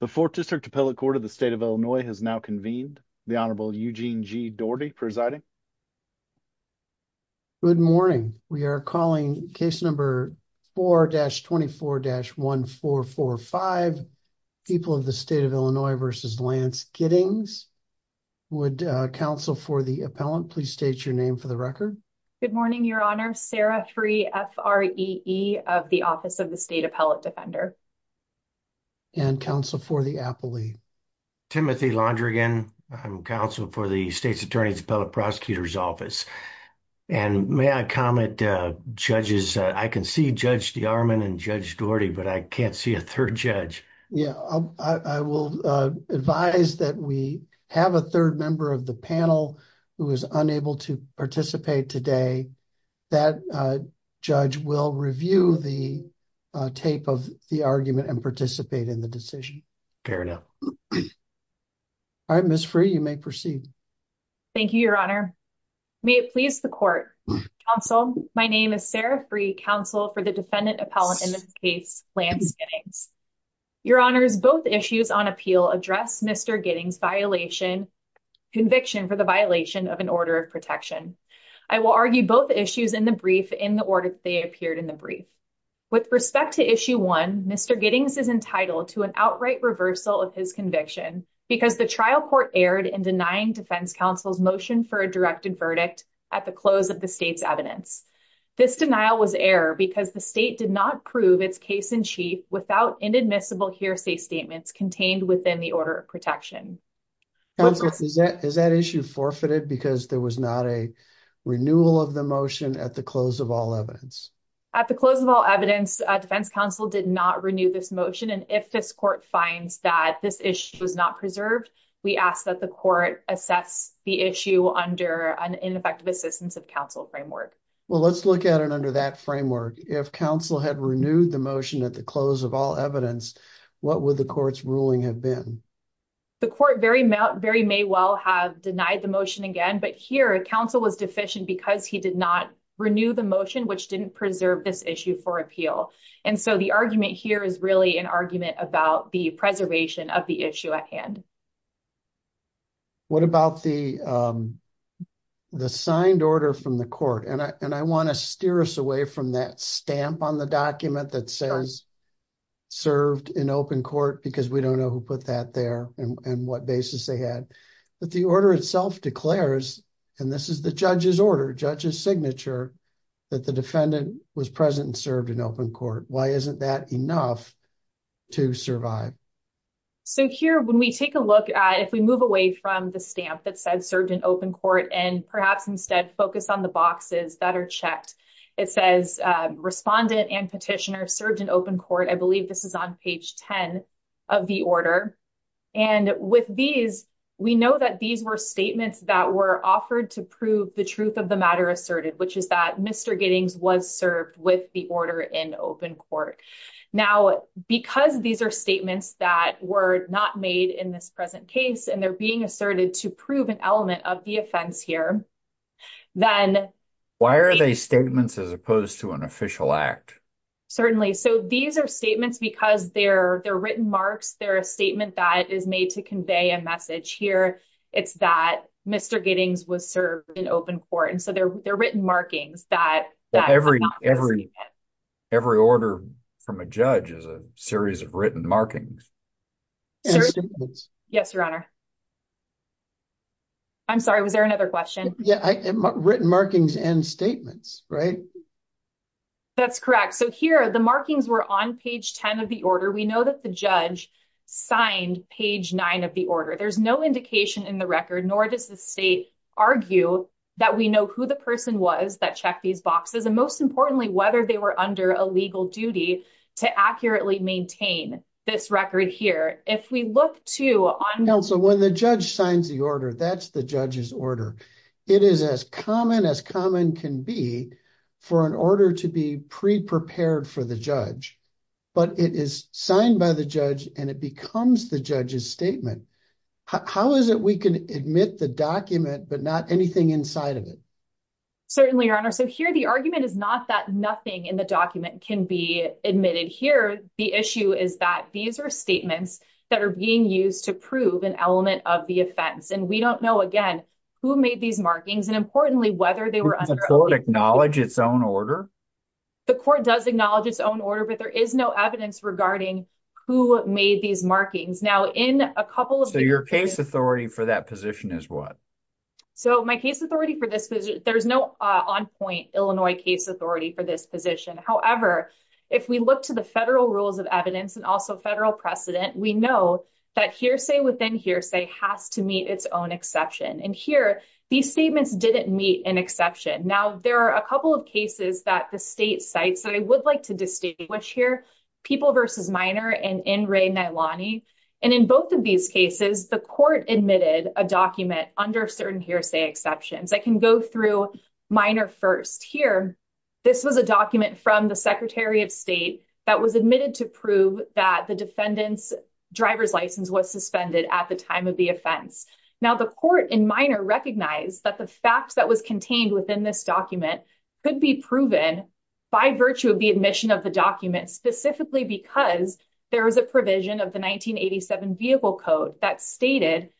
The Fourth District Appellate Court of the State of Illinois has now convened. The Honorable Eugene G. Doherty presiding. Good morning. We are calling case number 4-24-1445, People of the State of Illinois v. Lance Gittings. Would counsel for the appellant please state your name for the record? Good morning, Your Honor. Sarah Free, F-R-E-E, of the Office of the State Appellate Defender. And counsel for the appellee. Timothy Laundrigan, I'm counsel for the State's Attorney's Appellate Prosecutor's Office. And may I comment, judges, I can see Judge DeArmond and Judge Doherty, but I can't see a third judge. Yeah, I will advise that we have a third member of the panel who is unable to participate today. That judge will review the tape of the argument and participate in the decision. Fair enough. All right, Ms. Free, you may proceed. Thank you, Your Honor. May it please the court. Counsel, my name is Sarah Free, counsel for the defendant appellant in this case, Lance Gittings. Your Honors, both issues on appeal address Mr. Gittings' violation, conviction for the violation of an order of protection. I will argue both issues in the brief in the order they appeared in the brief. With respect to issue one, Mr. Gittings is entitled to an outright reversal of his conviction because the trial court erred in denying defense counsel's motion for a directed verdict at the close of the state's evidence. This denial was error because the state did not prove its case-in-chief without inadmissible hearsay statements contained within the order of protection. Counsel, is that issue forfeited because there was not a renewal of the motion at the close of all evidence? At the close of all evidence, defense counsel did not renew this motion, and if this court finds that this issue was not preserved, we ask that the court assess the issue under an ineffective assistance of counsel framework. Well, let's look at it under that framework. If counsel had renewed the motion at the close of all evidence, what would the court's ruling have been? The court very may well have denied the motion again, but here counsel was deficient because he did not renew the motion which didn't preserve this issue for appeal. And so the argument here is really an argument about the preservation of the issue at hand. What about the signed order from the court? And I want to steer us away from that stamp on the document that says served in open court, because we don't know who put that there and what basis they had, but the order itself declares, and this is the judge's order, judge's signature, that the defendant was present and served in open court. Why isn't that enough to survive? So here, when we take a look at, if we move away from the stamp that says served in open court, and perhaps instead focus on the boxes that are checked, it says respondent and petitioner served in open court. I believe this is on page 10 of the order. And with these, we know that these were statements that were offered to prove the truth of the matter asserted, which is that Mr. Giddings was served with the order in open court. Now, because these are statements that were not made in this present case, and they're being asserted to prove an element of the offense here, then- As opposed to an official act. So these are statements because they're written marks. They're a statement that is made to convey a message here. It's that Mr. Giddings was served in open court. And so they're written markings that- Every order from a judge is a series of written markings. Yes, Your Honor. I'm sorry, was there another question? Written markings and statements, right? That's correct. So here, the markings were on page 10 of the order. We know that the judge signed page nine of the order. There's no indication in the record, nor does the state argue that we know who the person was that checked these boxes. And most importantly, whether they were under a legal duty to accurately maintain this record here. If we look to- Counsel, when the judge signs the order, that's the judge's order. It is as common as common can be for an order to be pre-prepared for the judge. But it is signed by the judge and it becomes the judge's statement. How is it we can admit the document, but not anything inside of it? Certainly, Your Honor. So here, the argument is not that nothing in the document can be admitted here. The issue is that these are statements that are being used to prove an element of the offense. And we don't know, again, who made these markings and, importantly, whether they were- Does the court acknowledge its own order? The court does acknowledge its own order, but there is no evidence regarding who made these markings. Now, in a couple of- So your case authority for that position is what? So my case authority for this position, there's no on-point Illinois case authority for this position. However, if we look to the federal rules of evidence and also federal precedent, we know that hearsay within hearsay has to meet its own exception. And here, these statements didn't meet an exception. Now, there are a couple of cases that the state cites that I would like to distinguish here, People v. Minor and N. Ray Nailani. And in both of these cases, the court admitted a document under certain hearsay exceptions. I can go through Minor first. Here, this was a document from the Secretary of State that was admitted to prove that the driver's license was suspended at the time of the offense. Now, the court in Minor recognized that the facts that was contained within this document could be proven by virtue of the admission of the document, specifically because there was a provision of the 1987 Vehicle Code that stated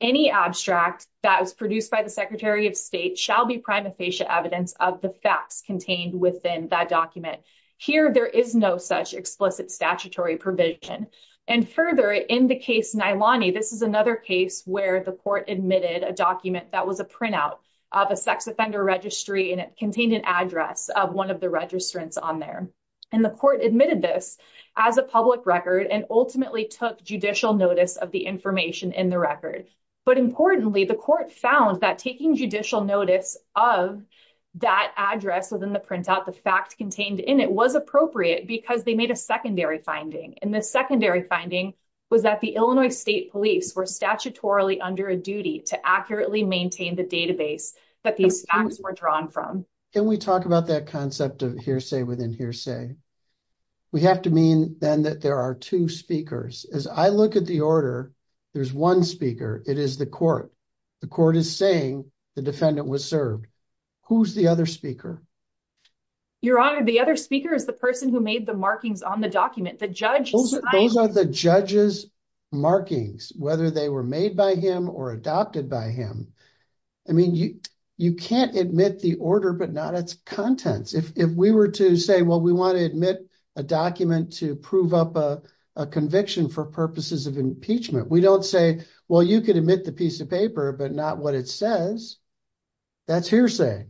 any abstract that was produced by the Secretary of State shall be prima facie evidence of the facts contained within that document. Here, there is no such explicit statutory provision. And further, in the case Nailani, this is another case where the court admitted a document that was a printout of a sex offender registry, and it contained an address of one of the registrants on there. And the court admitted this as a public record and ultimately took judicial notice of the information in the record. But importantly, the court found that taking judicial notice of that address within the was appropriate because they made a secondary finding. And the secondary finding was that the Illinois State Police were statutorily under a duty to accurately maintain the database that these facts were drawn from. Can we talk about that concept of hearsay within hearsay? We have to mean then that there are two speakers. As I look at the order, there's one speaker. It is the court. The court is saying the defendant was served. Who's the other speaker? Your Honor, the other speaker is the person who made the markings on the document. The judge. Those are the judge's markings, whether they were made by him or adopted by him. I mean, you can't admit the order, but not its contents. If we were to say, well, we want to admit a document to prove up a conviction for purposes of impeachment. We don't say, well, you could admit the piece of paper, but not what it says. That's hearsay.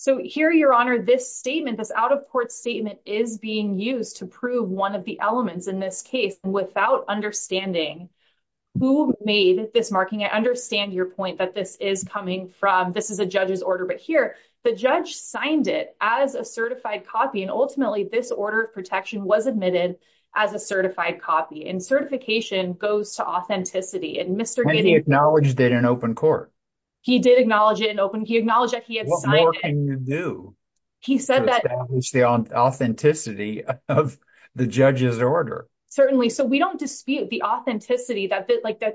So here, Your Honor, this statement, this out of court statement is being used to prove one of the elements in this case without understanding who made this marking. I understand your point that this is coming from. This is a judge's order. But here, the judge signed it as a certified copy. And ultimately, this order of protection was admitted as a certified copy. And certification goes to authenticity. And Mr. Giddy acknowledged it in open court. He did acknowledge it in open. He acknowledged that he had signed it. What more can you do to establish the authenticity of the judge's order? Certainly. So we don't dispute the authenticity that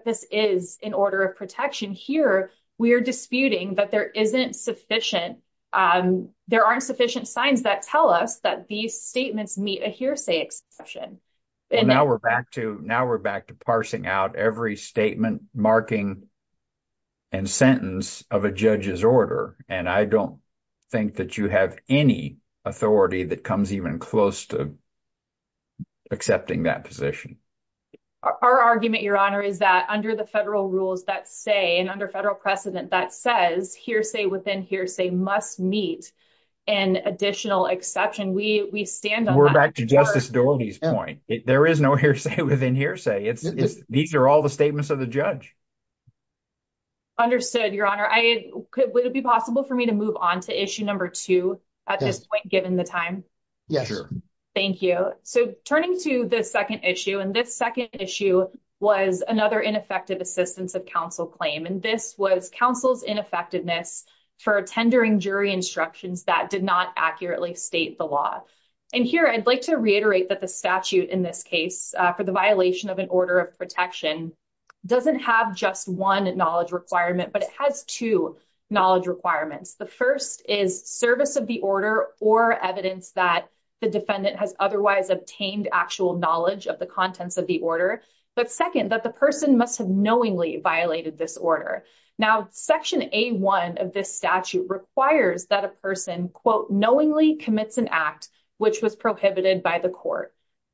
this is an order of protection. Here, we are disputing that there isn't sufficient. There aren't sufficient signs that tell us that these statements meet a hearsay exception. Now we're back to parsing out every statement, marking, and sentence of a judge's order. And I don't think that you have any authority that comes even close to accepting that position. Our argument, Your Honor, is that under the federal rules that say and under federal precedent that says hearsay within hearsay must meet an additional exception. We stand on that. We're back to Justice Doherty's point. There is no hearsay within hearsay. These are all the statements of the judge. Understood, Your Honor. Would it be possible for me to move on to issue number two at this point, given the time? Yeah, sure. Thank you. So turning to the second issue, and this second issue was another ineffective assistance of counsel claim. And this was counsel's ineffectiveness for tendering jury instructions that did not accurately state the law. And here, I'd like to reiterate that the statute in this case for the violation of an order of protection doesn't have just one knowledge requirement, but it has two knowledge requirements. The first is service of the order or evidence that the defendant has otherwise obtained actual knowledge of the contents of the order. But second, that the person must have knowingly violated this order. Now, section A1 of this statute requires that a person, quote, knowingly commits an act which was prohibited by the court.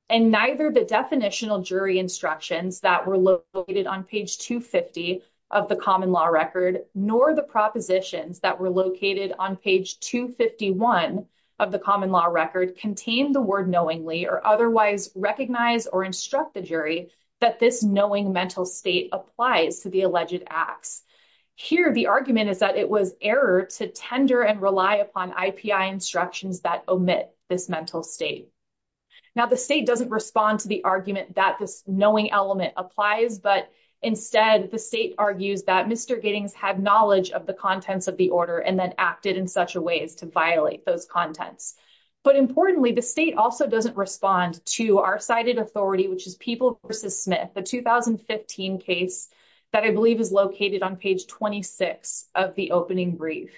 And neither the definitional jury instructions that were located on page 250 of the common law record, nor the propositions that were located on page 251 of the common law record contain the word knowingly or otherwise recognize or instruct the jury that this knowing mental state applies to the alleged acts. Here, the argument is that it was error to tender and rely upon IPI instructions that omit this mental state. Now, the state doesn't respond to the argument that this knowing element applies, but instead the state argues that Mr. Giddings had knowledge of the contents of the order and then acted in such a way as to violate those contents. But importantly, the state also doesn't respond to our cited authority, which is People v. Smith, a 2015 case that I believe is located on page 26 of the opening brief.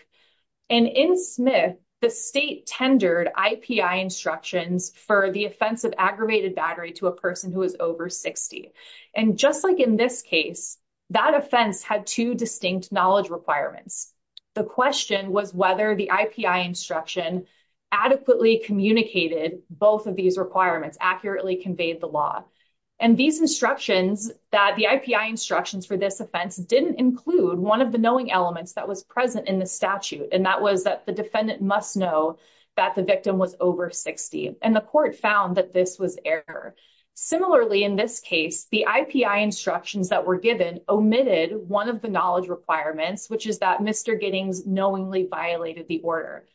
And in Smith, the state tendered IPI instructions for the offense of aggravated battery to a person who is over 60. And just like in this case, that offense had two distinct knowledge requirements. The question was whether the IPI instruction adequately communicated both of these requirements, accurately conveyed the law. And these instructions that the IPI instructions for this offense didn't include one of the And that was that the defendant must know that the victim was over 60. And the court found that this was error. Similarly, in this case, the IPI instructions that were given omitted one of the knowledge requirements, which is that Mr. Giddings knowingly violated the order.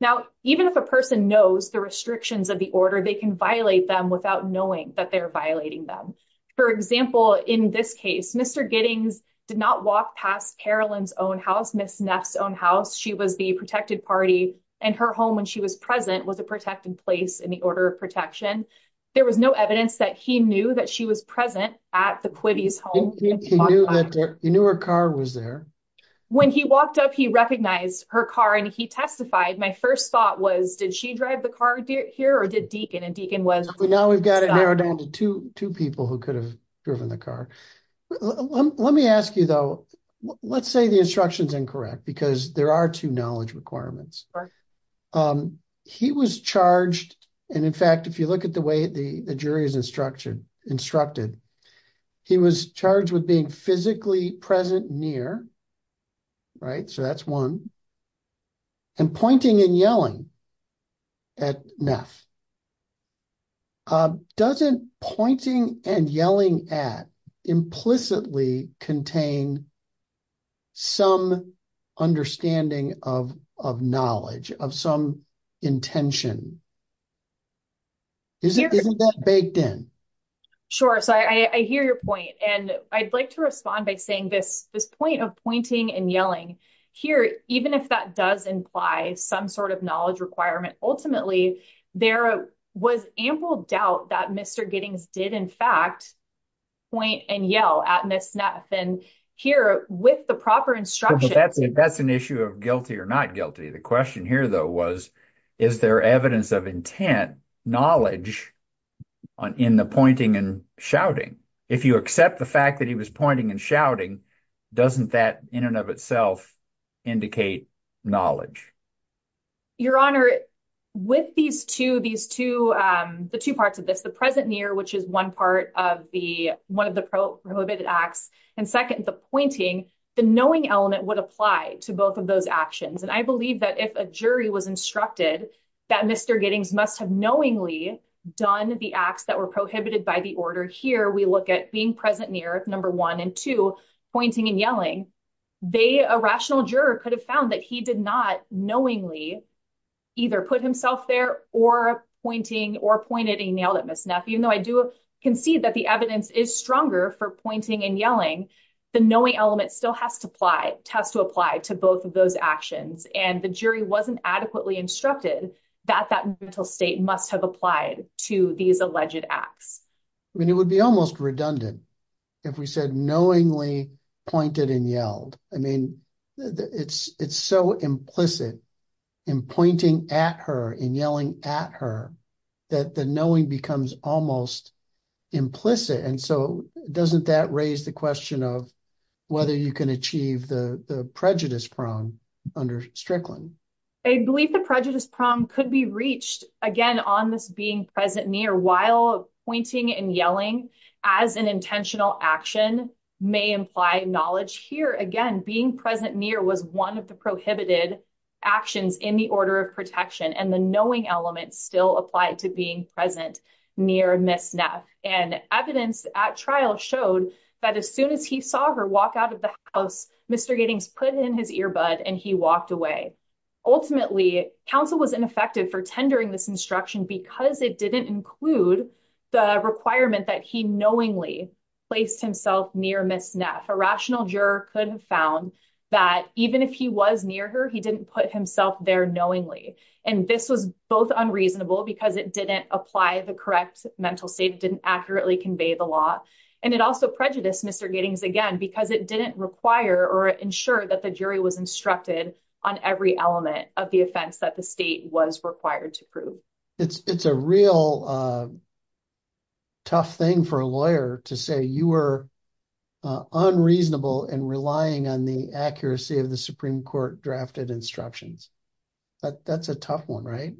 Now, even if a person knows the restrictions of the order, they can violate them without knowing that they're violating them. For example, in this case, Mr. Giddings did not walk past Carolyn's own house, Ms. Neff's own house. She was the protected party and her home when she was present was a protected place in the order of protection. There was no evidence that he knew that she was present at the Quivy's home. He knew her car was there. When he walked up, he recognized her car and he testified. My first thought was, did she drive the car here or did Deacon? And Deacon was- Now we've got it narrowed down to two people who could have driven the car. Let me ask you, though, let's say the instruction is incorrect because there are two knowledge requirements. He was charged, and in fact, if you look at the way the jury is instructed, he was charged with being physically present near, right? So that's one. And pointing and yelling at Neff. Doesn't pointing and yelling at implicitly contain some understanding of knowledge, of some intention? Isn't that baked in? Sure. So I hear your point. And I'd like to respond by saying this, this point of pointing and yelling here, even if that does imply some sort of knowledge requirement. Ultimately, there was ample doubt that Mr. Giddings did, in fact, point and yell at Ms. Neff. And here with the proper instruction- That's an issue of guilty or not guilty. The question here, though, was, is there evidence of intent, knowledge in the pointing and shouting? If you accept the fact that he was pointing and shouting, doesn't that in and of itself indicate knowledge? Your Honor, with these two, these two, the two parts of this, the present near, which is one part of the, one of the prohibited acts, and second, the pointing, the knowing element would apply to both of those actions. And I believe that if a jury was instructed that Mr. Giddings must have knowingly done the acts that were prohibited by the order here, we look at being present near, number one, and two, pointing and yelling, they, a rational knowingly either put himself there or pointing or pointed and yelled at Ms. Neff. Even though I do concede that the evidence is stronger for pointing and yelling, the knowing element still has to apply, has to apply to both of those actions. And the jury wasn't adequately instructed that that mental state must have applied to these alleged acts. I mean, it would be almost redundant if we said knowingly pointed and yelled. I mean, it's, it's so implicit in pointing at her and yelling at her that the knowing becomes almost implicit. And so doesn't that raise the question of whether you can achieve the prejudice prong under Strickland? I believe the prejudice prong could be reached again on this being present near while pointing and yelling as an intentional action may imply knowledge here. Again, being present near was one of the prohibited actions in the order of protection and the knowing element still applied to being present near Ms. Neff. And evidence at trial showed that as soon as he saw her walk out of the house, Mr. Giddings put in his earbud and he walked away. Ultimately, counsel was ineffective for tendering this instruction because it didn't include the requirement that he knowingly placed himself near Ms. A rational juror could have found that even if he was near her, he didn't put himself there knowingly. And this was both unreasonable because it didn't apply the correct mental state, didn't accurately convey the law. And it also prejudiced Mr. Again, because it didn't require or ensure that the jury was instructed on every element of the offense that the state was required to prove. It's a real tough thing for a lawyer to say you were unreasonable and relying on the accuracy of the Supreme Court drafted instructions. That's a tough one, right?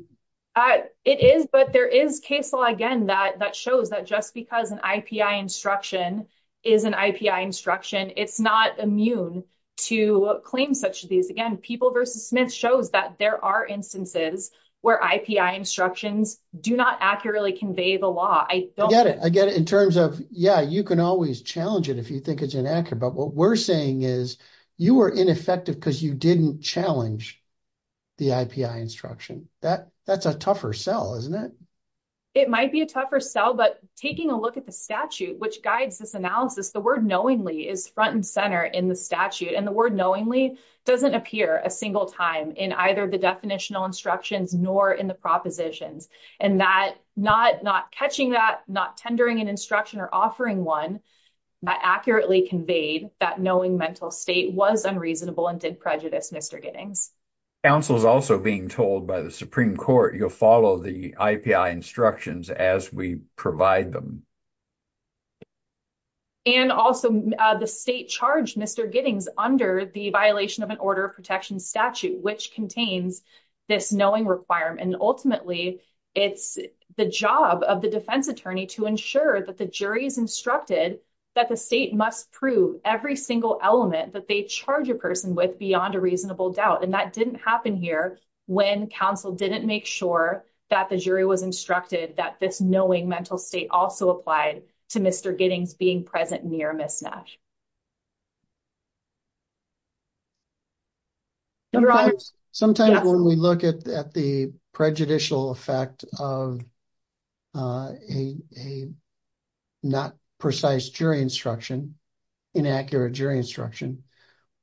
It is. But there is case law, again, that shows that just because an IPI instruction is an IPI instruction, it's not immune to claim such as these. Again, people versus Smith shows that there are instances where IPI instructions do not accurately convey the law. I don't get it. I get it in terms of, yeah, you can always challenge it if you think it's inaccurate. But what we're saying is you were ineffective because you didn't challenge the IPI instruction. That's a tougher sell, isn't it? It might be a tougher sell. But taking a look at the statute, which guides this analysis, the word knowingly is front and center in the statute. And the word knowingly doesn't appear a single time in either the definitional instructions nor in the propositions. And that not catching that, not tendering an instruction or offering one accurately conveyed that knowing mental state was unreasonable and did prejudice Mr. Giddings. Counsel is also being told by the Supreme Court, you'll follow the IPI instructions as we provide them. And also the state charged Mr. Giddings under the violation of an order of protection statute, which contains this knowing requirement. And ultimately, it's the job of the defense attorney to ensure that the jury is instructed that the state must prove every single element that they charge a person with beyond a reasonable doubt. And that didn't happen here when counsel didn't make sure that the jury was instructed that this knowing mental state also applied to Mr. Giddings being present near Ms. Nash. Sometimes when we look at the prejudicial effect of a not precise jury instruction, inaccurate jury instruction.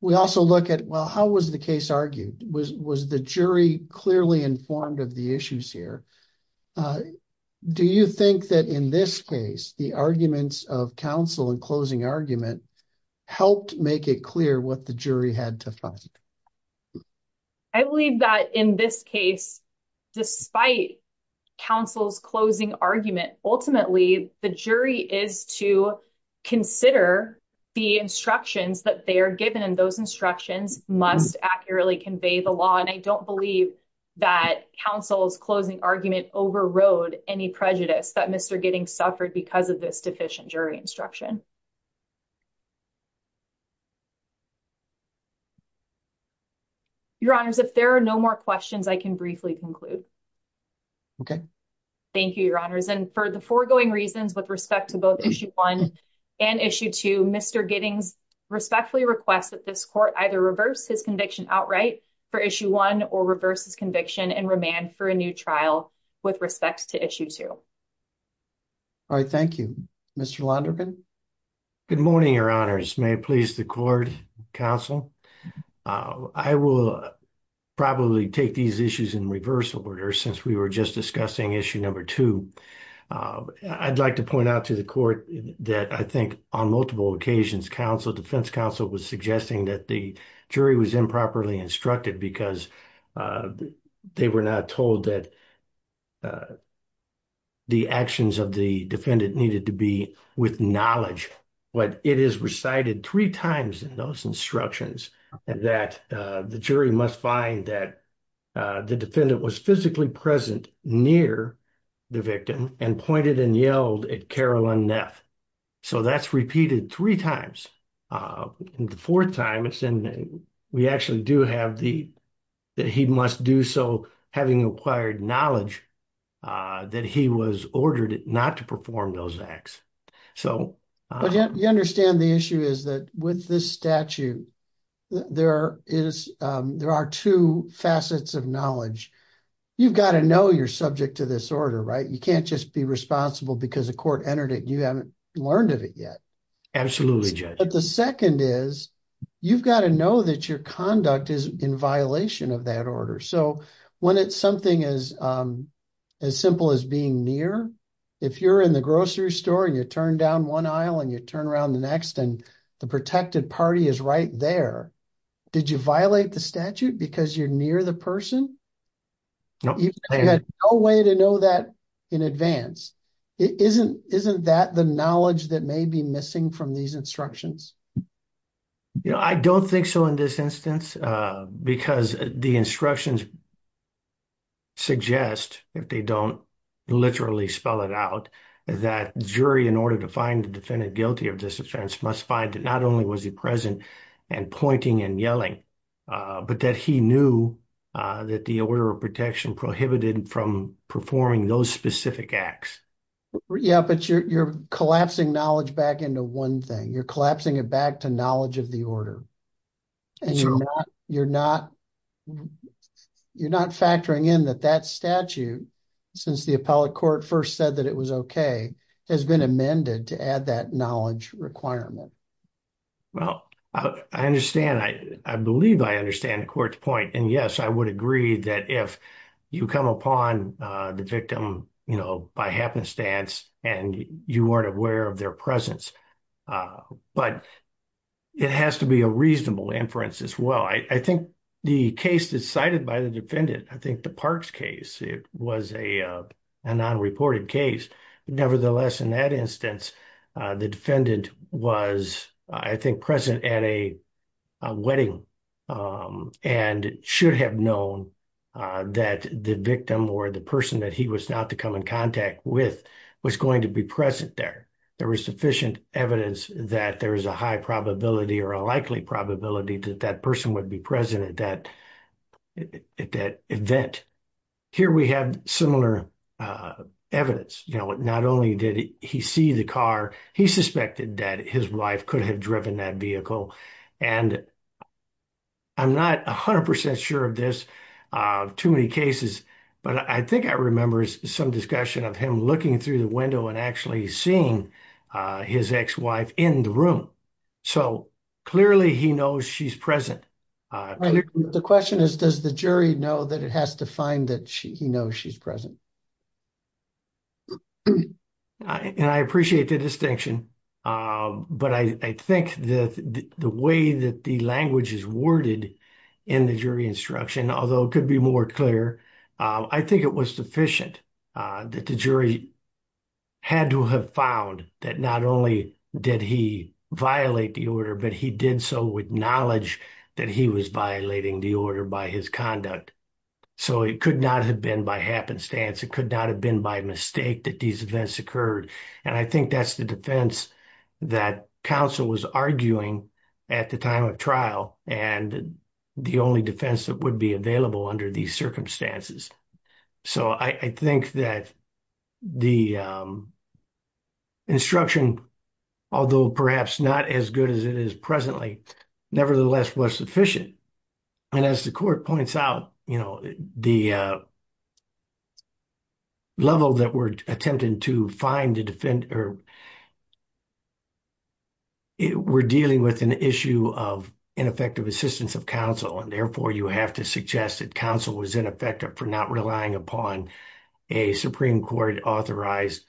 We also look at, well, how was the case argued? Was the jury clearly informed of the issues here? Do you think that in this case, the arguments of counsel and closing argument helped make it clear what the jury had to find? I believe that in this case, despite counsel's closing argument, ultimately, the jury is to consider the instructions that they are given. And those instructions must accurately convey the law. And I don't believe that counsel's closing argument overrode any prejudice that Mr. Giddings suffered because of this deficient jury instruction. Your honors, if there are no more questions, I can briefly conclude. Thank you, your honors. For the foregoing reasons with respect to both issue 1 and issue 2, Mr. Giddings respectfully requests that this court either reverse his conviction outright for issue 1 or reverse his conviction and remand for a new trial with respect to issue 2. All right. Thank you. Mr. Londergan. Good morning, your honors. May it please the court, counsel. I will probably take these issues in reversal order since we were just discussing issue 2. I'd like to point out to the court that I think on multiple occasions defense counsel was suggesting that the jury was improperly instructed because they were not told that the actions of the defendant needed to be with knowledge. But it is recited three times in those instructions that the jury must find that the defendant was physically present near the victim and pointed and yelled at Carolyn Neff. So that's repeated three times. And the fourth time, we actually do have that he must do so having acquired knowledge that he was ordered not to perform those acts. So you understand the issue is that with this statute, there are two facets of knowledge. You've got to know you're subject to this order, right? You can't just be responsible because the court entered it. You haven't learned of it yet. Absolutely, judge. But the second is you've got to know that your conduct is in violation of that order. So when it's something as simple as being near, if you're in the grocery store and you turn down one aisle and you turn around the next and the protected party is right there, did you violate the statute because you're near the person? No. You had no way to know that in advance. Isn't that the knowledge that may be missing from these instructions? I don't think so in this instance, because the instructions suggest, if they don't literally spell it out, that jury, in order to find the defendant guilty of this offense, must find that not only was he present and pointing and yelling, but that he knew that the order of protection prohibited from performing those specific acts. Yeah, but you're collapsing knowledge back into one thing. You're collapsing it back to knowledge of the order. And you're not factoring in that that statute, since the appellate court first said that it was okay, has been amended to add that knowledge requirement. Well, I understand. I believe I understand the court's point. And yes, I would agree that if you come upon the victim by happenstance and you weren't aware of their presence. But it has to be a reasonable inference as well. I think the case decided by the defendant, I think the Parks case, it was a non-reported case. Nevertheless, in that instance, the defendant was, I think, present at a wedding and should have known that the victim or the person that he was not to come in contact with was going to be present there. There was sufficient evidence that there is a high probability or a likely probability that that person would be present at that event. Here we have similar evidence. You know, not only did he see the car, he suspected that his wife could have driven that vehicle. And I'm not 100% sure of this, too many cases. But I think I remember some discussion of him looking through the window and actually seeing his ex-wife in the room. So clearly he knows she's present. The question is, does the jury know that it has to find that he knows she's present? And I appreciate the distinction. But I think that the way that the language is worded in the jury instruction, although it could be more clear, I think it was sufficient that the jury had to have found that not only did he violate the order, but he did so with knowledge that he was violating the order by his conduct. So it could not have been by happenstance. It could not have been by mistake that these events occurred. And I think that's the defense that counsel was arguing at the time of trial. And the only defense that would be available under these circumstances. So I think that the instruction, although perhaps not as good as it is presently, nevertheless was sufficient. And as the court points out, you know, the level that we're attempting to find, or we're dealing with an issue of ineffective assistance of counsel. And therefore you have to suggest that counsel was ineffective for not relying upon a Supreme Court authorized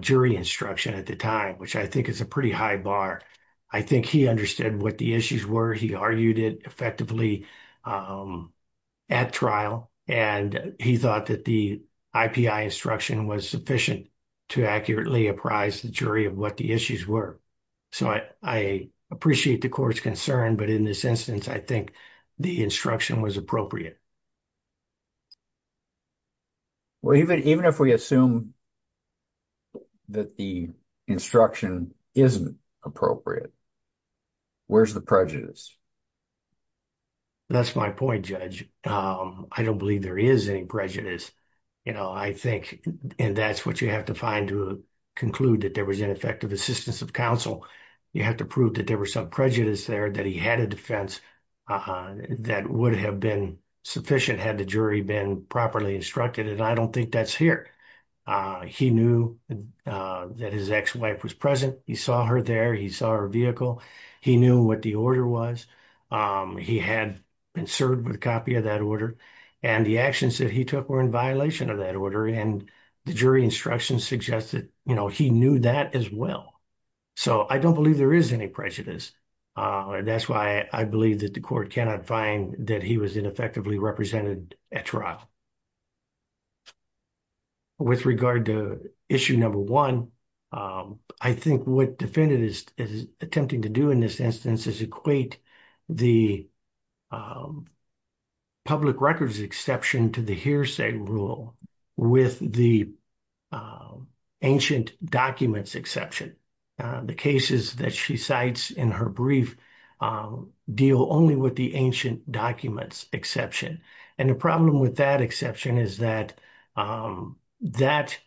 jury instruction at the time, which I think is a pretty high bar. I think he understood what the issues were. He argued it effectively at trial. And he thought that the IPI instruction was sufficient to accurately apprise the jury of what the issues were. So I appreciate the court's concern, but in this instance, I think the instruction was appropriate. Well, even if we assume that the instruction isn't appropriate, where's the prejudice? That's my point, Judge. I don't believe there is any prejudice, you know, I think. And that's what you have to find to conclude that there was ineffective assistance of counsel. You have to prove that there were some prejudice there, that he had a defense that would have been sufficient had the jury been properly instructed. And I don't think that's here. He knew that his ex-wife was present. He saw her there. He saw her vehicle. He knew what the order was. He had been served with a copy of that order. And the actions that he took were in violation of that order. And the jury instruction suggested, you know, he knew that as well. So I don't believe there is any prejudice. That's why I believe that the court cannot find that he was ineffectively represented at trial. With regard to issue number one, I think what defendant is attempting to do in this instance is equate the public records exception to the hearsay rule with the ancient documents exception. The cases that she cites in her brief deal only with the ancient documents exception. And the problem with that exception is that that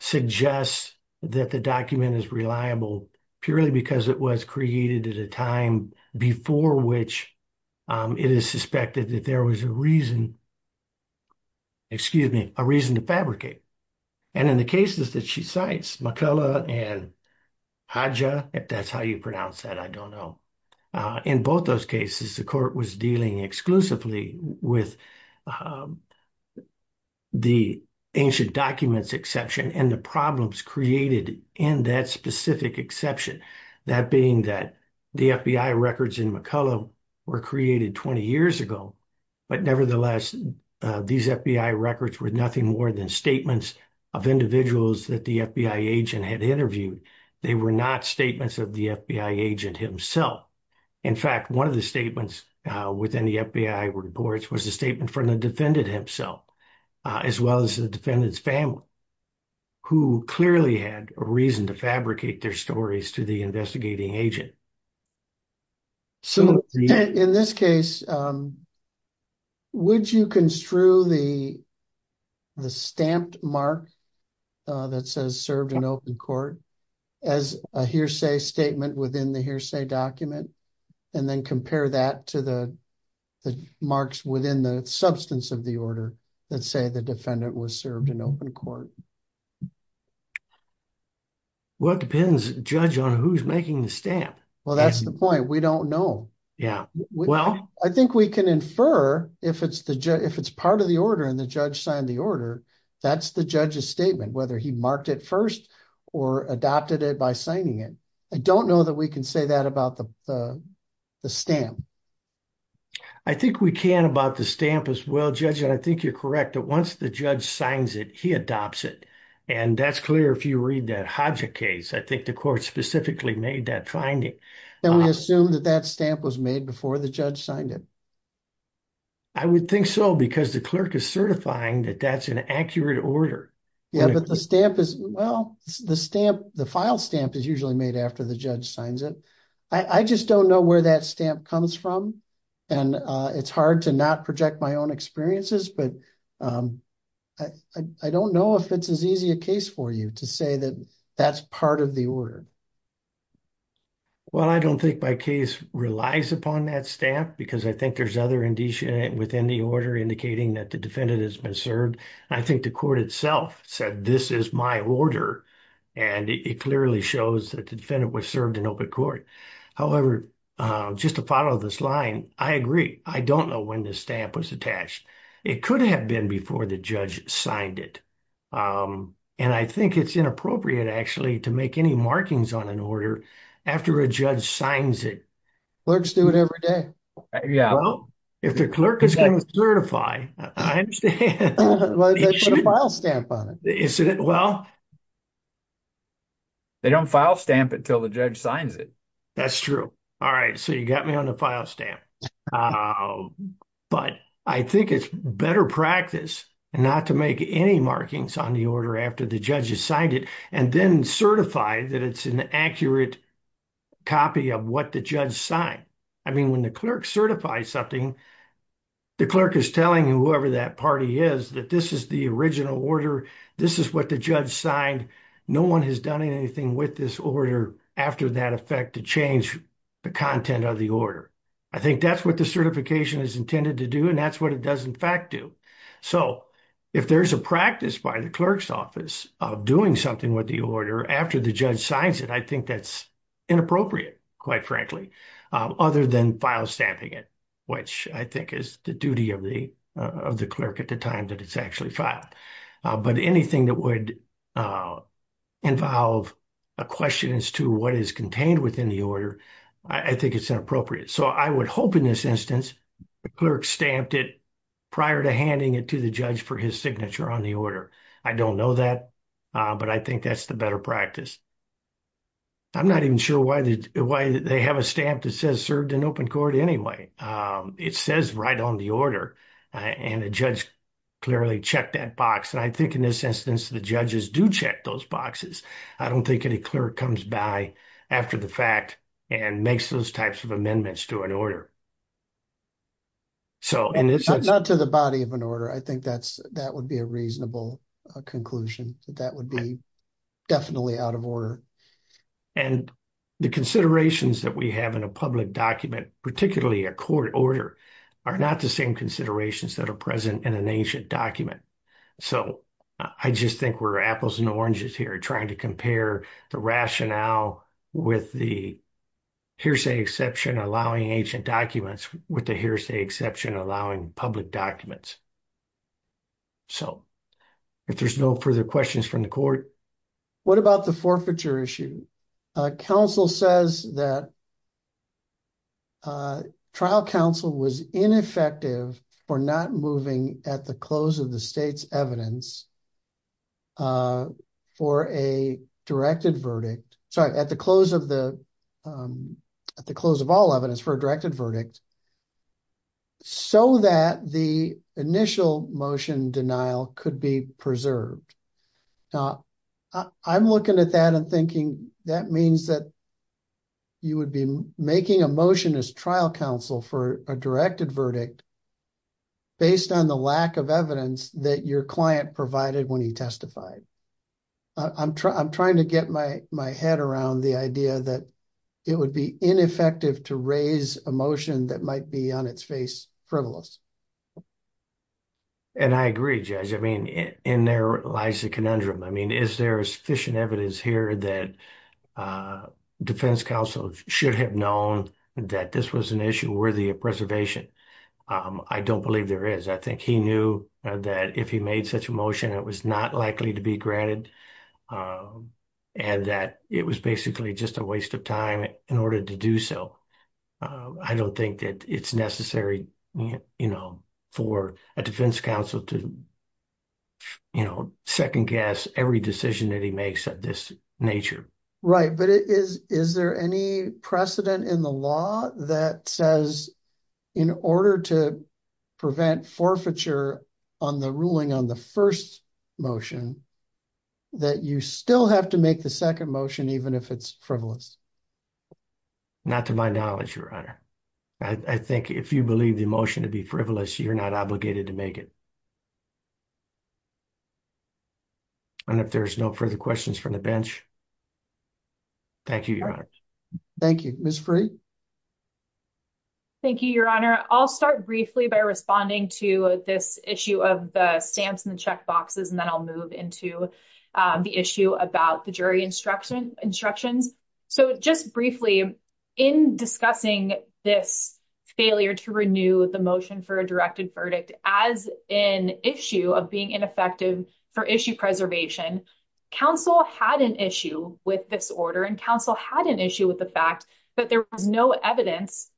suggests that the document is reliable purely because it was created at a time before which it is suspected that there was a reason, excuse me, a reason to fabricate. And in the cases that she cites, McCullough and Haja, if that's how you pronounce that, I don't know. In both those cases, the court was dealing exclusively with the ancient documents exception and the problems created in that specific exception. That being that the FBI records in McCullough were created 20 years ago, but nevertheless, these FBI records were nothing more than statements of individuals that the FBI agent had interviewed. They were not statements of the FBI agent himself. In fact, one of the statements within the FBI reports was a statement from the defendant himself, as well as the defendant's family, who clearly had a reason to fabricate their stories to the investigating agent. So in this case, would you construe the stamped mark that says served in open court as a hearsay statement within the hearsay document, and then compare that to the marks within the substance of the order that say the defendant was served in open court? Well, it depends, Judge, on who's making the stamp. Well, that's the point. We don't know. Yeah, well... I think we can infer if it's part of the order and the judge signed the order, that's the judge's statement, whether he marked it first or adopted it by signing it. I don't know that we can say that about the stamp. I think we can about the stamp as well, Judge, and I think you're correct, that once the judge signs it, he adopts it. And that's clear if you read that Hodgett case. I think the court specifically made that finding. Then we assume that that stamp was made before the judge signed it. I would think so, because the clerk is certifying that that's an accurate order. Yeah, but the stamp is... Well, the file stamp is usually made after the judge signs it. I just don't know where that stamp comes from, and it's hard to not project my own experiences, but I don't know if it's as easy a case for you to say that that's part of the order. Well, I don't think my case relies upon that stamp, because I think there's other indicia within the order indicating that the defendant has been served. I think the court itself said, this is my order, and it clearly shows that the defendant was served in open court. However, just to follow this line, I agree. I don't know when this stamp was attached. It could have been before the judge signed it, and I think it's inappropriate, actually, to make any markings on an order after a judge signs it. Clerks do it every day. Yeah. Well, if the clerk is going to certify, I understand. Well, they put a file stamp on it. Isn't it? Well, they don't file stamp it until the judge signs it. That's true. All right, so you got me on the file stamp. But I think it's better practice not to make any markings on the order after the judge has signed it, and then certify that it's an accurate copy of what the judge signed. I mean, when the clerk certifies something, the clerk is telling whoever that party is that this is the original order. This is what the judge signed. No one has done anything with this order after that effect to change the content of the order. I think that's what the certification is intended to do, and that's what it does, in fact, do. So if there's a practice by the clerk's office of doing something with the order after the judge signs it, I think that's inappropriate, quite frankly, other than file stamping it, which I think is the duty of the clerk at the time that it's actually filed. But anything that would involve a question as to what is contained within the order, I think it's inappropriate. So I would hope in this instance, the clerk stamped it prior to handing it to the judge for his signature on the order. I don't know that, but I think that's the better practice. I'm not even sure why they have a stamp that says served in open court anyway. It says right on the order, and the judge clearly checked that box. And I think in this instance, the judges do check those boxes. I don't think any clerk comes by after the fact and makes those types of amendments to an order. So in this sense- Not to the body of an order. I think that would be a reasonable conclusion that that would be definitely out of order. And the considerations that we have in a public document, particularly a court order, are not the same considerations that are present in an ancient document. So I just think we're apples and oranges here trying to compare the rationale with the hearsay exception allowing ancient documents with the hearsay exception allowing public documents. So if there's no further questions from the court- What about the forfeiture issue? Counsel says that trial counsel was ineffective for not moving at the close of the state's evidence for a directed verdict. Sorry, at the close of all evidence for a directed verdict, so that the initial motion denial could be preserved. Now, I'm looking at that and thinking that means that you would be making a motion as trial counsel for a directed verdict based on the lack of evidence that your client provided when he testified. I'm trying to get my head around the idea that it would be ineffective to raise a motion that might be on its face frivolous. And I agree, Judge. I mean, in there lies the conundrum. I mean, is there sufficient evidence here that defense counsel should have known that this was an issue worthy of preservation? I don't believe there is. I think he knew that if he made such a motion, it was not likely to be granted and that it was basically just a waste of time in order to do so. I don't think that it's necessary for a defense counsel to second guess every decision that he makes of this nature. Right, but is there any precedent in the law that says in order to prevent forfeiture on the ruling on the first motion that you still have to make the second motion even if it's frivolous? Not to my knowledge, Your Honor. I think if you believe the motion to be frivolous, you're not obligated to make it. And if there's no further questions from the bench, thank you, Your Honor. Thank you. Ms. Frey? Thank you, Your Honor. I'll start briefly by responding to this issue of the stamps in the check boxes and then I'll move into the issue about the jury instructions. So just briefly, in discussing this failure to renew the motion for a directed verdict as an issue of being ineffective for issue preservation, counsel had an issue with this order and counsel had an issue with the fact there was no evidence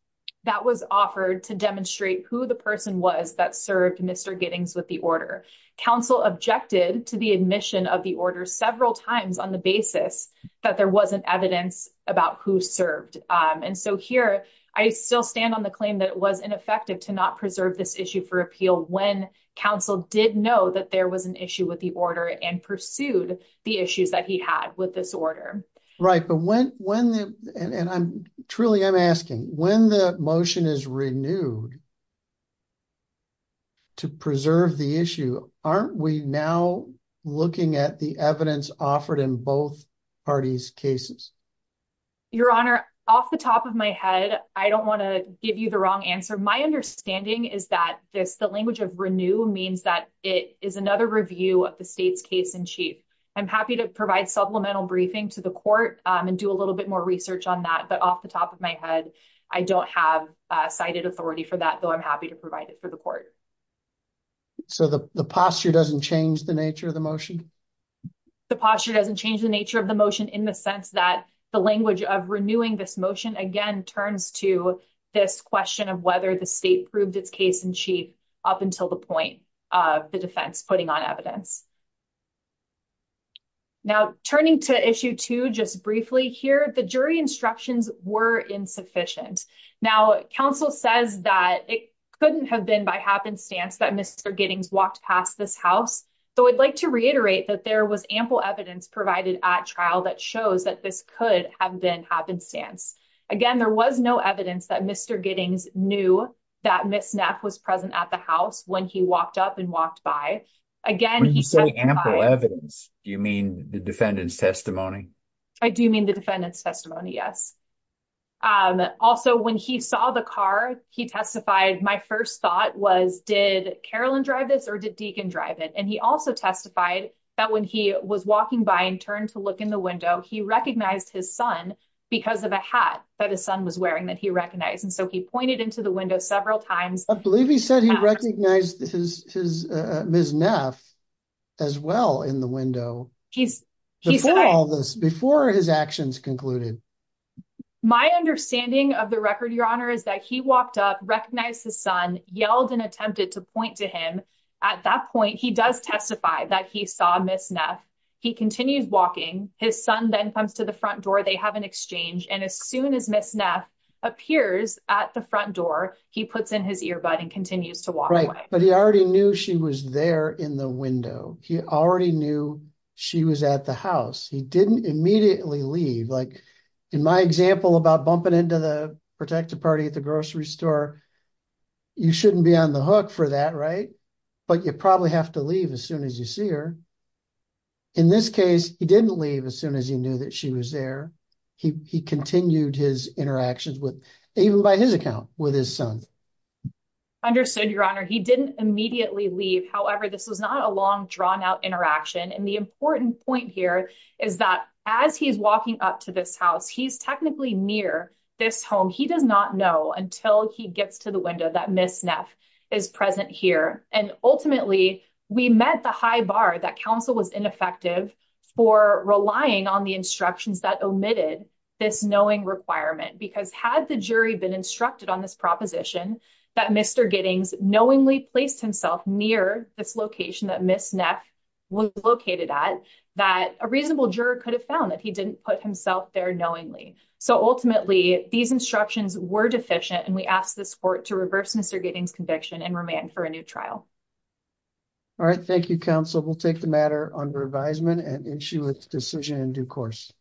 that was offered to demonstrate who the person was that served Mr. Giddings with the order. Counsel objected to the admission of the order several times on the basis that there wasn't evidence about who served. And so here, I still stand on the claim that it was ineffective to not preserve this issue for appeal when counsel did know that there was an issue with the order and pursued the issues that he had with this order. Right, and truly I'm asking, when the motion is renewed to preserve the issue, aren't we now looking at the evidence offered in both parties' cases? Your Honor, off the top of my head, I don't want to give you the wrong answer. My understanding is that the language of renew means that it is another review of the state's case-in-chief. I'm happy to provide supplemental briefing to the court and do a little bit more research on that. But off the top of my head, I don't have cited authority for that, though I'm happy to provide it for the court. So the posture doesn't change the nature of the motion? The posture doesn't change the nature of the motion in the sense that the language of renewing this motion, again, turns to this question of whether the state proved its case-in-chief up until the point of the defense putting on evidence. Now, turning to issue two just briefly here, the jury instructions were insufficient. Now, counsel says that it couldn't have been by happenstance that Mr. Giddings walked past this house, though I'd like to reiterate that there was ample evidence provided at trial that shows that this could have been happenstance. Again, there was no evidence that Mr. Giddings knew that Ms. Neff was present at the house when he walked up and walked by. Again, he testified- When you say ample evidence, do you mean the defendant's testimony? I do mean the defendant's testimony, yes. Also, when he saw the car, he testified, my first thought was, did Carolyn drive this or did Deacon drive it? And he also testified that when he was walking by and turned to look in the window, he recognized his son because of a hat that his son was wearing that he recognized. And so he pointed into the window several times- I believe he said he recognized Ms. Neff as well in the window before his actions concluded. My understanding of the record, Your Honor, is that he walked up, recognized his son, yelled and attempted to point to him. At that point, he does testify that he saw Ms. Neff. He continues walking. His son then comes to the front door. They have an exchange. And as soon as Ms. Neff appears at the front door, he puts in his earbud and continues to walk away. But he already knew she was there in the window. He already knew she was at the house. He didn't immediately leave. Like in my example about bumping into the protective party at the grocery store, you shouldn't be on the hook for that, right? But you probably have to leave as soon as you see her. In this case, he didn't leave as soon as he knew that she was there. He continued his interactions with, even by his account, with his son. Understood, Your Honor. He didn't immediately leave. However, this was not a long, drawn-out interaction. And the important point here is that as he's walking up to this house, he's technically near this home. He does not know until he gets to the window that Ms. Neff is present here. And ultimately, we met the high bar that counsel was ineffective for relying on the instructions that omitted this knowing requirement. Because had the jury been instructed on this proposition that Mr. Giddings knowingly placed himself near this location that Ms. Neff was located at, that a reasonable juror could have found that he didn't put himself there knowingly. So ultimately, these instructions were deficient. And we asked this court to reverse Mr. Giddings' conviction and remand for a new trial. All right. Thank you, counsel. We'll take the matter under advisement and issue a decision in due course.